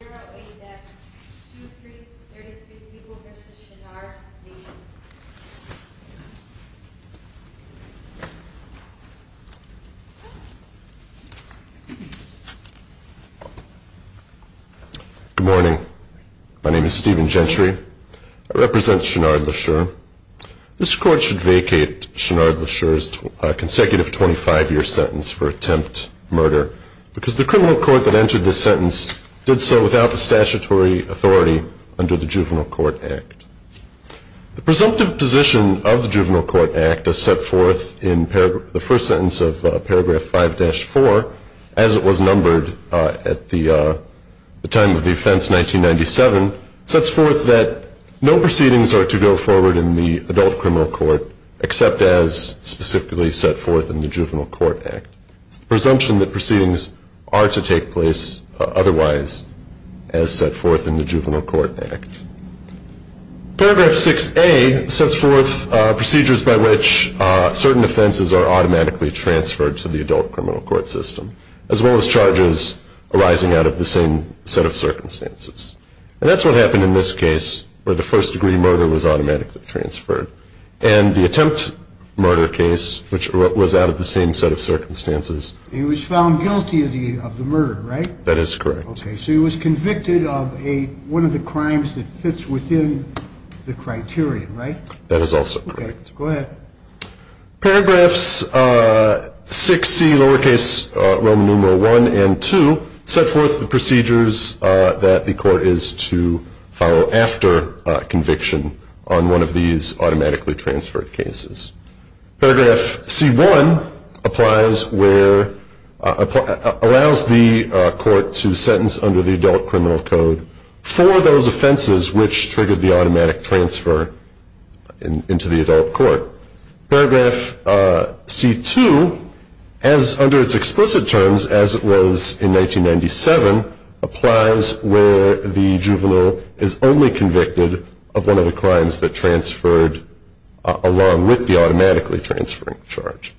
Good morning. My name is Stephen Gentry. I represent Shenard Lesure. This court should vacate Shenard Lesure's consecutive 25-year sentence for attempt murder because the criminal court that entered this sentence did so without the statutory authority under the Juvenile Court Act. The presumptive position of the Juvenile Court Act as set forth in the first sentence of paragraph 5-4, as it was numbered at the time of the offense 1997, sets forth that no proceedings are to go forward in the adult criminal court except as specifically set forth in the Juvenile Court Act. It's the presumption that proceedings are to take place otherwise as set forth in the Juvenile Court Act. Paragraph 6-A sets forth procedures by which certain offenses are automatically transferred to the adult criminal court system, as well as charges arising out of the same set of circumstances. And that's what happened in this case where the first-degree murder was automatically transferred. And the attempt murder case, which was out of the same set of circumstances. He was found guilty of the murder, right? That is correct. Okay, so he was convicted of one of the crimes that fits within the criterion, right? That is also correct. Okay, go ahead. Paragraphs 6-C, lowercase Roman numeral 1 and 2, set forth the procedures that the court is to follow after conviction on one of these offenses. Paragraph C-1 applies where, allows the court to sentence under the adult criminal code for those offenses which triggered the automatic transfer into the adult court. Paragraph C-2, as under its explicit terms as it was in 1997, applies where the juvenile is only automatically transferring a charge.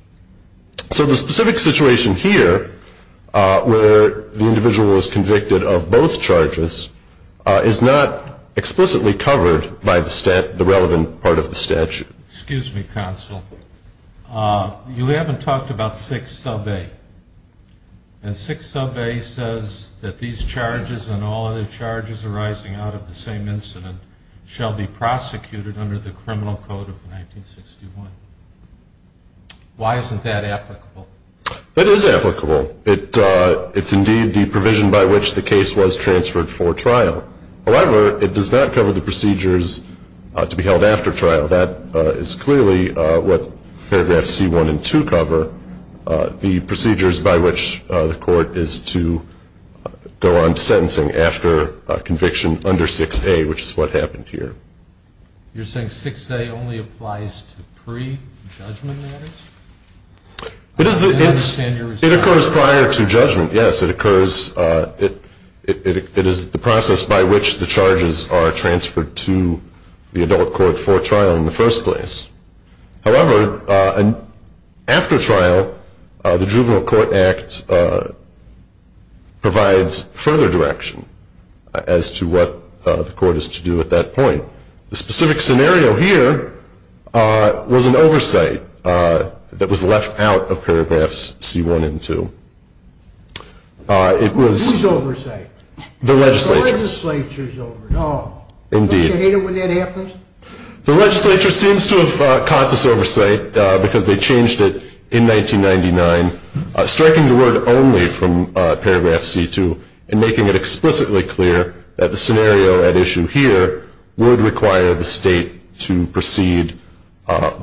So the specific situation here, where the individual is convicted of both charges, is not explicitly covered by the relevant part of the statute. Excuse me, counsel. You haven't talked about 6-A. And 6-A says that these charges and all other charges arising out of the same incident shall be prosecuted under the criminal code of 1961. Why isn't that applicable? That is applicable. It is indeed the provision by which the case was transferred for trial. However, it does not cover the procedures to be held after trial. That is clearly what paragraphs C-1 and 2 cover, the procedures by which the court is to go on to sentencing after conviction under 6-A, which is what applies to pre-judgment matters? It occurs prior to judgment, yes. It is the process by which the charges are transferred to the adult court for trial in the first place. However, after trial, the Juvenile Court Act provides further direction as to what the court is to do at that point. The was an oversight that was left out of paragraphs C-1 and 2. Whose oversight? The legislature's. The legislature's oversight? Indeed. Don't you hate it when that happens? The legislature seems to have caught this oversight because they changed it in 1999, striking the word only from paragraph C-2 and making it explicitly clear that the scenario at issue here would require the state to proceed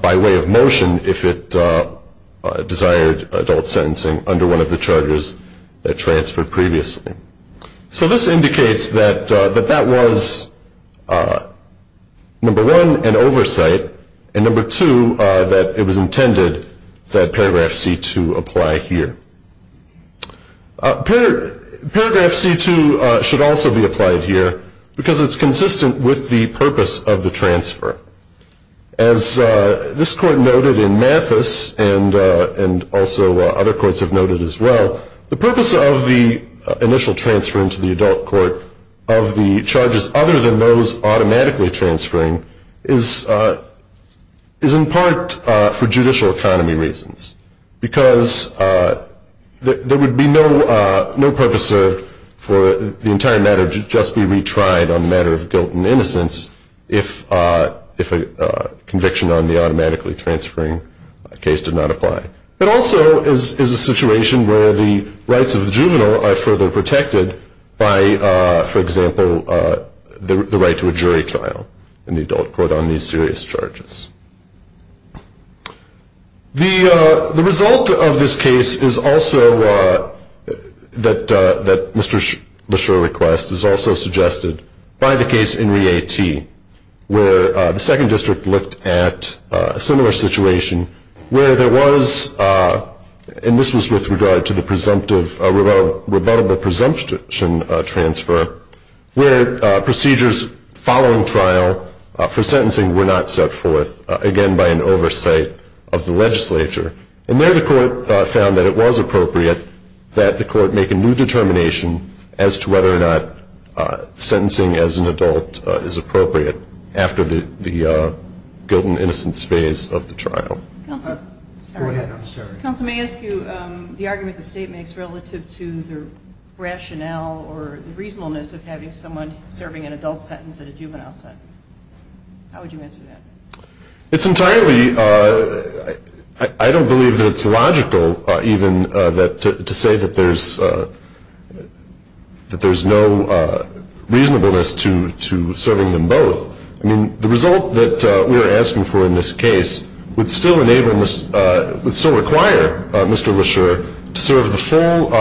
by way of motion if it desired adult sentencing under one of the charges that transferred previously. So this indicates that that was, number one, an oversight, and number two, that it was intended that paragraph C-2 apply here. Paragraph C-2 should also be applied here because it's consistent with the purpose of the transfer. As this court noted in Mathis, and also other courts have noted as well, the purpose of the initial transfer into the adult court of the charges other than those There would be no purpose served for the entire matter to just be retried on a matter of guilt and innocence if a conviction on the automatically transferring case did not apply. It also is a situation where the rights of the juvenile are further protected by, for example, the right to a jury trial in the adult court on these serious charges. The result of this case is also, that Mr. Leshurr requests, is also suggested by the case in Re-A-T, where the second district looked at a similar situation where there was, and this was with regard to the presumptive, rebuttable presumption transfer, where procedures following trial for sentencing were not set forth. Again, by an oversight of the legislature. And there the court found that it was appropriate that the court make a new determination as to whether or not sentencing as an adult is appropriate after the guilt and innocence phase of the trial. Counsel may ask you the argument the state makes relative to the rationale or the reasonableness of having someone serving an adult sentence and a juvenile sentence. How would you answer that? It's entirely, I don't believe that it's logical even to say that there's no reasonableness to serving them both. I mean, the result that we're asking for in this case would still enable, would still require Mr. Leshurr to serve the full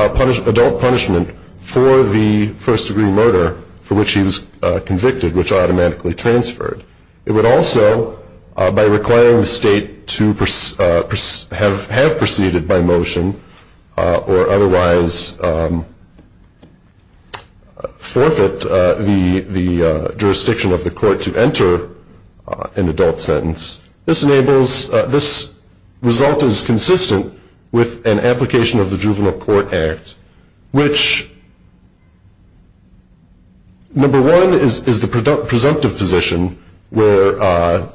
adult punishment for the first degree murder for which he was convicted, which automatically transferred. It would also, by requiring the state to have proceeded by motion or otherwise forfeit the jurisdiction of the court to enter an adult sentence, this enables, this result is consistent with an application of the Juvenile Court Act, which number one is the presumptive position where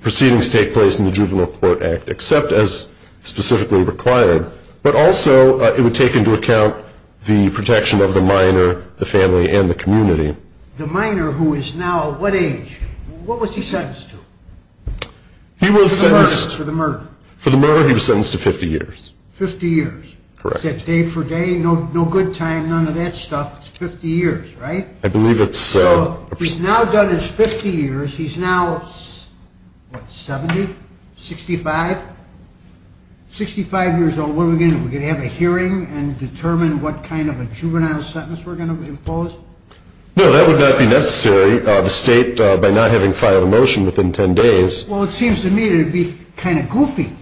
proceedings take place in the Juvenile Court Act, except as specifically required, but also it would take into account the protection of the minor, the family, and the community. The minor who is now what age, what was he sentenced to for the murder? For the murder, he was sentenced to 50 years. 50 years? Correct. Is that day for day? No good time, none of that stuff, it's 50 years, right? I believe it's... So he's now done his 50 years, he's now what, 70, 65, 65 years old, what are we going to do? Are we going to have a hearing and determine what kind of a juvenile sentence we're going to impose? No, that would not be necessary. The state, by not having filed a motion within 10 days... Well, it seems to me it would be kind of goofy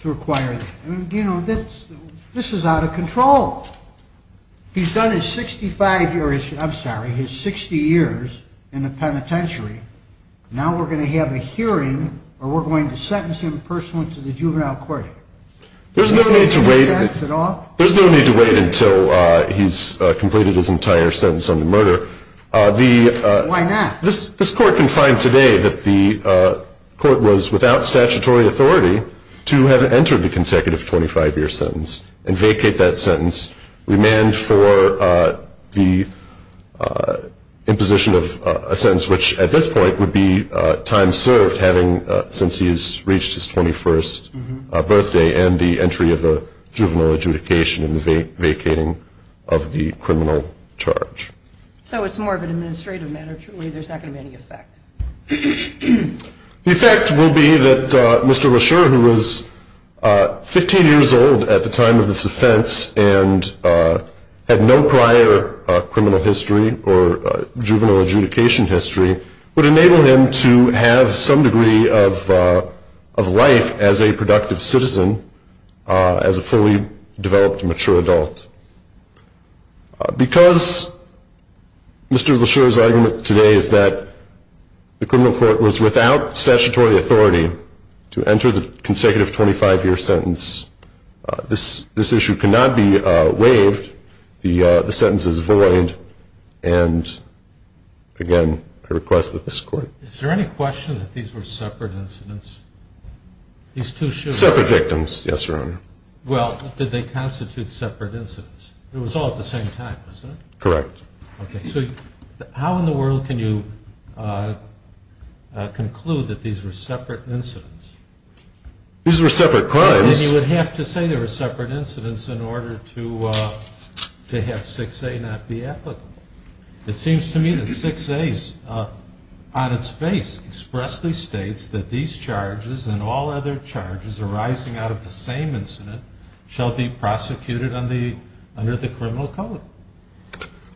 to require that, I mean, you know, this is out of control. He's done his 65 years, I'm sorry, his 60 years in the penitentiary, now we're going to have a hearing or we're going to sentence him personally to the Juvenile Court Act. There's no need to wait until he's completed his entire sentence on the murder. Why not? This court can find today that the court was without statutory authority to have entered the consecutive 25 year sentence and vacate that sentence, remand for the imposition of a sentence which at this point would be time served having, since he's reached his 21st birthday and the entry of the juvenile adjudication and the vacating of the criminal charge. So it's more of an administrative matter, truly, there's not going to be any effect? The effect will be that Mr. Rasher, who was 15 years old at the time of this offense and had no prior criminal history or juvenile adjudication history, would enable him to have some degree of life as a productive citizen, as a fully developed mature adult. Because Mr. Rasher's argument today is that the criminal court was without statutory authority to enter the consecutive 25 year sentence, this issue cannot be waived, the sentence is void and again, I request that this court... Is there any question that these were separate incidents? These two shooters... Separate victims, yes your honor. Well, did they constitute separate incidents? It was all at the same time, wasn't it? Correct. Okay, so how in the world can you conclude that these were separate incidents? These were separate crimes. Then you would have to say they were separate incidents in order to have 6A not be applicable. It seems to me that 6A on its face expressly states that these charges and all other charges arising out of the same incident shall be prosecuted under the criminal code.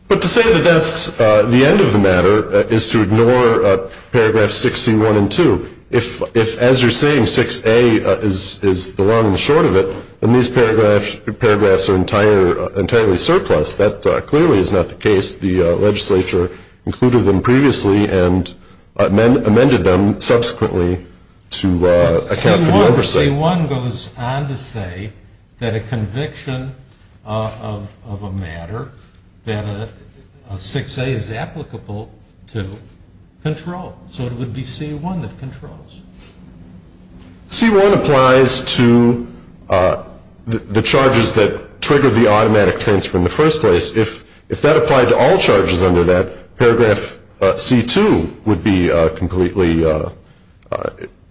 But to say that that's the end of the matter is to ignore paragraphs 6C1 and 2. If as you're saying 6A is the long and short of it and these paragraphs are entirely surplus, that clearly is not the case. The legislature included them previously and amended them subsequently to account for the oversight. C1 goes on to say that a conviction of a matter that a 6A is applicable to control. So it would be C1 that controls. C1 applies to the charges that triggered the automatic transfer in the first place. If that applied to all charges under that, paragraph C2 would be completely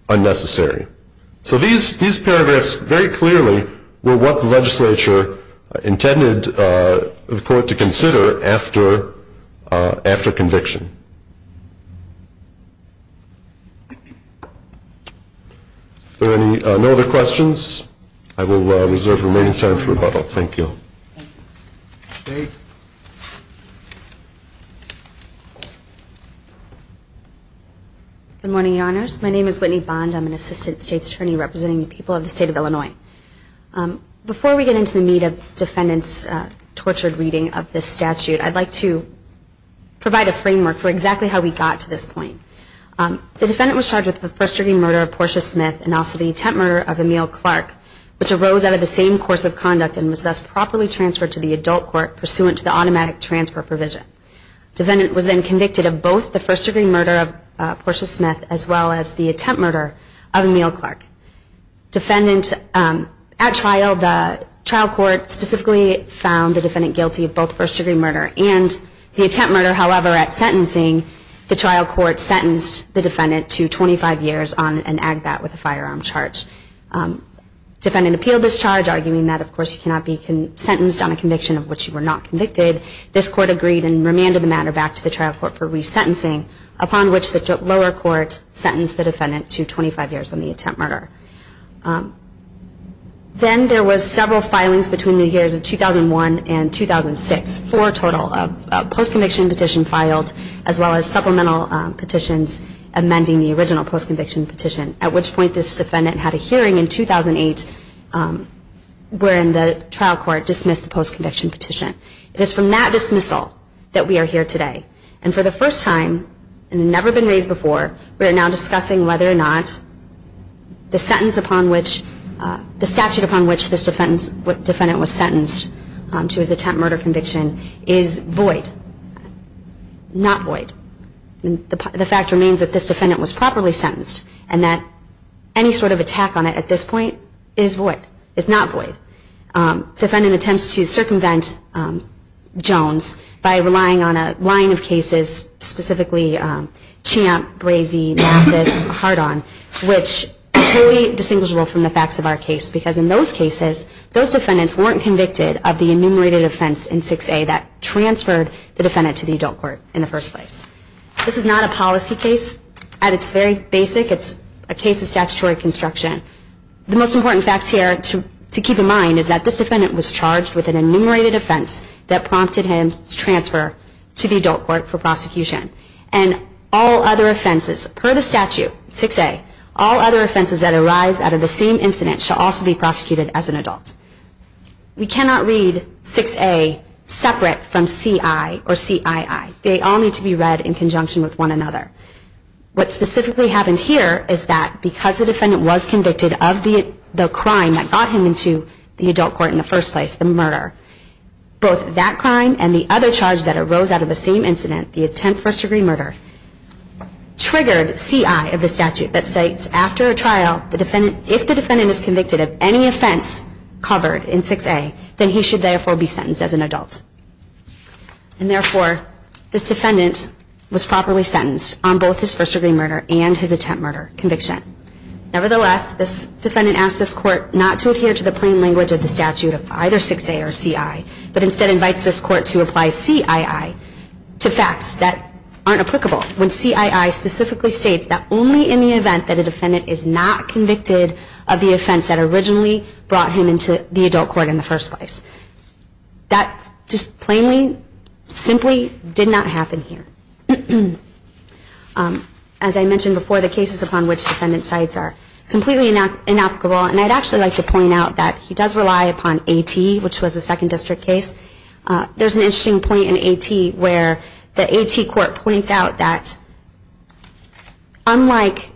unnecessary. So these paragraphs very clearly were what the legislature intended the court to consider after conviction. Are there any other questions? I will reserve remaining time for rebuttal. Thank you. Thank you. Thank you. Thank you. Thank you. Thank you. Good morning, Your Honors. My name is Whitney Bond. I'm an Assistant States Attorney representing the people of the state of Illinois. Before we get into the meat of the defendant's torture reading of the statute, I'd like to provide a framework for exactly how we got to this point. The defendant was charged with first-degree murder of Portia Smith and also the attempt murder of Emile Clark, which arose out of the same course of conduct and was thus properly transferred to the adult court pursuant to the automatic transfer provision. Defendant was then convicted of both the first-degree murder of Portia Smith as well as the attempt murder of Emile Clark. Defendant at trial, the trial court specifically found the defendant guilty of both first-degree murder and the attempt murder, however, at sentencing, the trial court sentenced the defendant to 25 years on an agbat with a firearm charge. Defendant appealed this charge, arguing that, of course, you cannot be sentenced on a conviction of which you were not convicted. This court agreed and remanded the matter back to the trial court for resentencing, upon which the lower court sentenced the defendant to 25 years on the attempt murder. Then there was several filings between the years of 2001 and 2006, four total, a post-conviction petition filed as well as supplemental petitions amending the original post-conviction petition, at which point this defendant had a hearing in 2008 wherein the trial court dismissed the post-conviction petition. It is from that dismissal that we are here today. And for the first time, and never been raised before, we are now discussing whether or not the sentence upon which, the statute upon which this defendant was sentenced to his attempt murder conviction is void, not void. The fact remains that this defendant was properly sentenced and that any sort of attack on it at this point is void, is not void. Defendant attempts to circumvent Jones by relying on a line of cases, specifically Champ, Brazee, Mathis, Hardon, which is fully distinguishable from the facts of our case because in those cases those defendants weren't convicted of the enumerated offense in 6A that transferred the defendant to the adult court in the first place. This is not a policy case at its very basic. It's a case of statutory construction. The most important facts here to keep in mind is that this defendant was charged with an enumerated offense that prompted him to transfer to the adult court for prosecution. And all other offenses per the statute, 6A, all other offenses that arise out of the same incident shall also be prosecuted as an adult. We cannot read 6A separate from CI or CII. They all need to be read in conjunction with one another. What specifically happened here is that because the defendant was convicted of the crime that got him into the adult court in the first place, the murder, both that crime and the other charge that arose out of the same incident, the attempt first degree murder, triggered CI of the statute that states after a trial if the defendant is convicted of any offense covered in 6A, then he should therefore be sentenced as an adult. And therefore, this defendant was properly sentenced on both his first degree murder and his attempt murder conviction. Nevertheless, this defendant asked this court not to adhere to the plain language of the statute of either 6A or CI, but instead invites this court to apply CII to facts that aren't applicable when CII specifically states that only in the event that a defendant is not convicted of the crime that got him into the adult court in the first place. That just plainly, simply did not happen here. As I mentioned before, the cases upon which defendant cites are completely inapplicable. And I'd actually like to point out that he does rely upon AT, which was a second district case. There's an interesting point in AT where the AT court points out that unlike,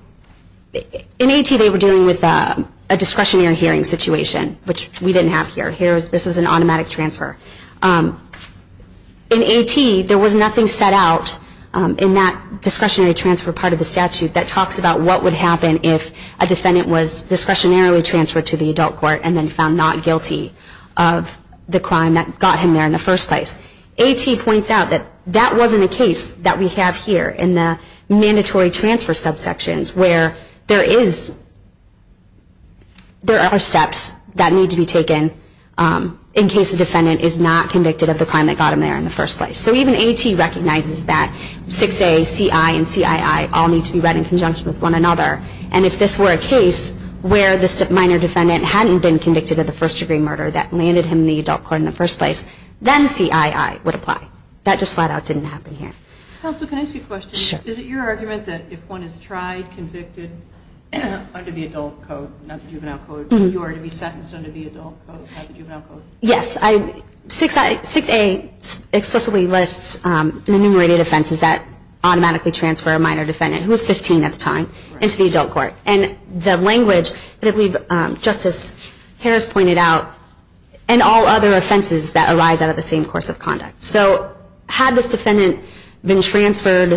in AT they were dealing with a discretionary hearing situation, which we didn't have here. Here, this was an automatic transfer. In AT, there was nothing set out in that discretionary transfer part of the statute that talks about what would happen if a defendant was discretionarily transferred to the adult court and then found not guilty of the crime that got him there in the first place. AT points out that that wasn't a case that we have here in the mandatory transfer subsections where there are steps that need to be taken in case a defendant is not convicted of the crime that got him there in the first place. So even AT recognizes that 6A, CI, and CII all need to be read in conjunction with one another. And if this were a case where the minor defendant hadn't been convicted of the first degree murder that landed him in the adult court in the first place, then CII would apply. That just flat out didn't happen here. Counsel, can I ask you a question? Sure. Is it your argument that if one is tried, convicted, under the adult code, not the juvenile code, you are to be sentenced under the adult code, not the juvenile code? Yes. 6A explicitly lists the enumerated offenses that automatically transfer a minor defendant, who was 15 at the time, into the adult court. And the language that we've, just as Harris pointed out, and all other offenses that arise out of the same course of conduct. So had this defendant been transferred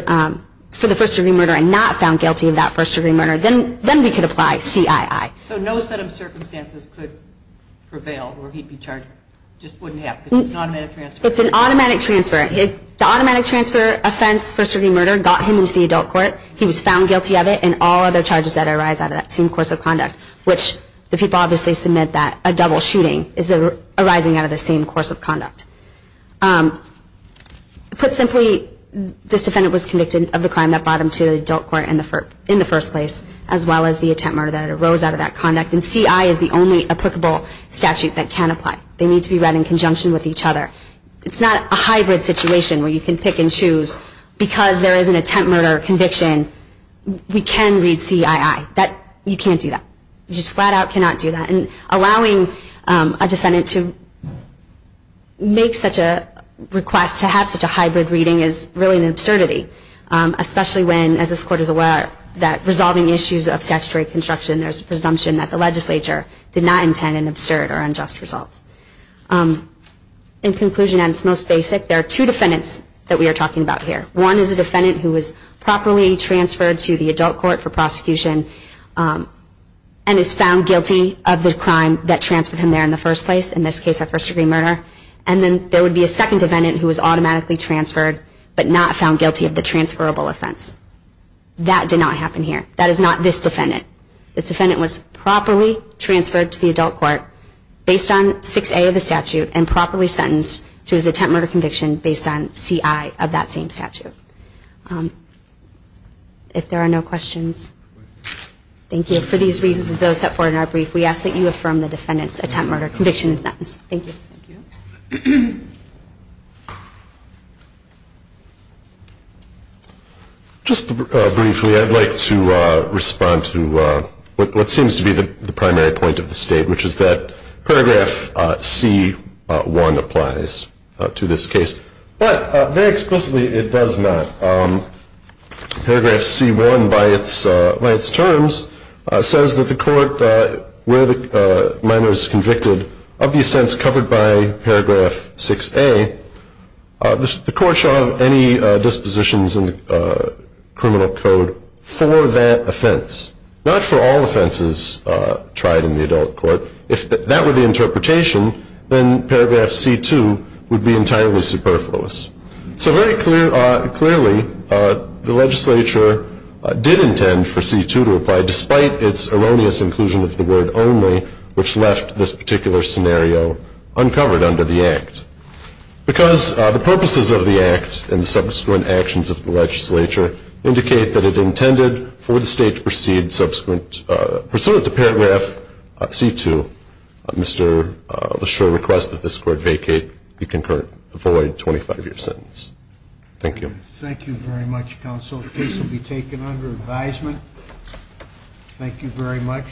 for the first degree murder and not found guilty of that first degree murder, then we could apply CII. So no set of circumstances could prevail where he'd be charged? Just wouldn't happen? It's an automatic transfer. It's an automatic transfer. The automatic transfer offense, first degree murder, got him into the adult court. He was found guilty of it, and all other charges that arise out of that same course of conduct, which the people obviously submit that a double shooting is arising out of the same course of conduct. Put simply, this defendant was convicted of the crime that brought him to the adult court in the first place, as well as the attempt murder that arose out of that conduct. And CII is the only applicable statute that can apply. They need to be read in conjunction with each other. It's not a hybrid situation where you can pick and choose. Because there is an attempt murder conviction, we can read CII. You can't do that. You just flat out cannot do that. And allowing a defendant to make such a request to have such a hybrid reading is really an absurdity, especially when, as this Court is aware, that resolving issues of statutory construction, there's a presumption that the legislature did not intend an absurd or unjust result. In conclusion, at its most basic, there are two defendants that we are talking about here. One is a defendant who was properly transferred to the adult court for prosecution and is found guilty of the crime that transferred him there in the first place, in this case, a first-degree murder. And then there would be a second defendant who was automatically transferred but not found guilty of the transferable offense. That did not happen here. That is not this defendant. This defendant was properly transferred to the adult court based on 6A of the statute and properly sentenced to his attempt murder conviction based on CII of that same statute. If there are no questions, thank you. For these reasons and those set forth in our brief, we ask that you affirm the defendant's attempt murder conviction sentence. Thank you. Thank you. Just briefly, I'd like to respond to what seems to be the primary point of the state, which is that paragraph C1 applies to this case. But very explicitly, it does not. Paragraph C1, by its terms, says that the court, where the minor is convicted, of the offense covered by paragraph 6A, the court shall have any dispositions in the criminal code for that offense. Not for all offenses tried in the adult court. If that were the interpretation, then paragraph C2 would be entirely superfluous. So very clearly, the legislature did intend for C2 to apply, despite its erroneous inclusion of the word only, which left this particular scenario uncovered under the Act. Because the purposes of the Act and the subsequent actions of the legislature indicate that it intended for the state to proceed to paragraph C2. Mr. Leshurr requests that this court vacate the concurrent void 25-year sentence. Thank you. Thank you very much, counsel. The case will be taken under advisement. Thank you very much.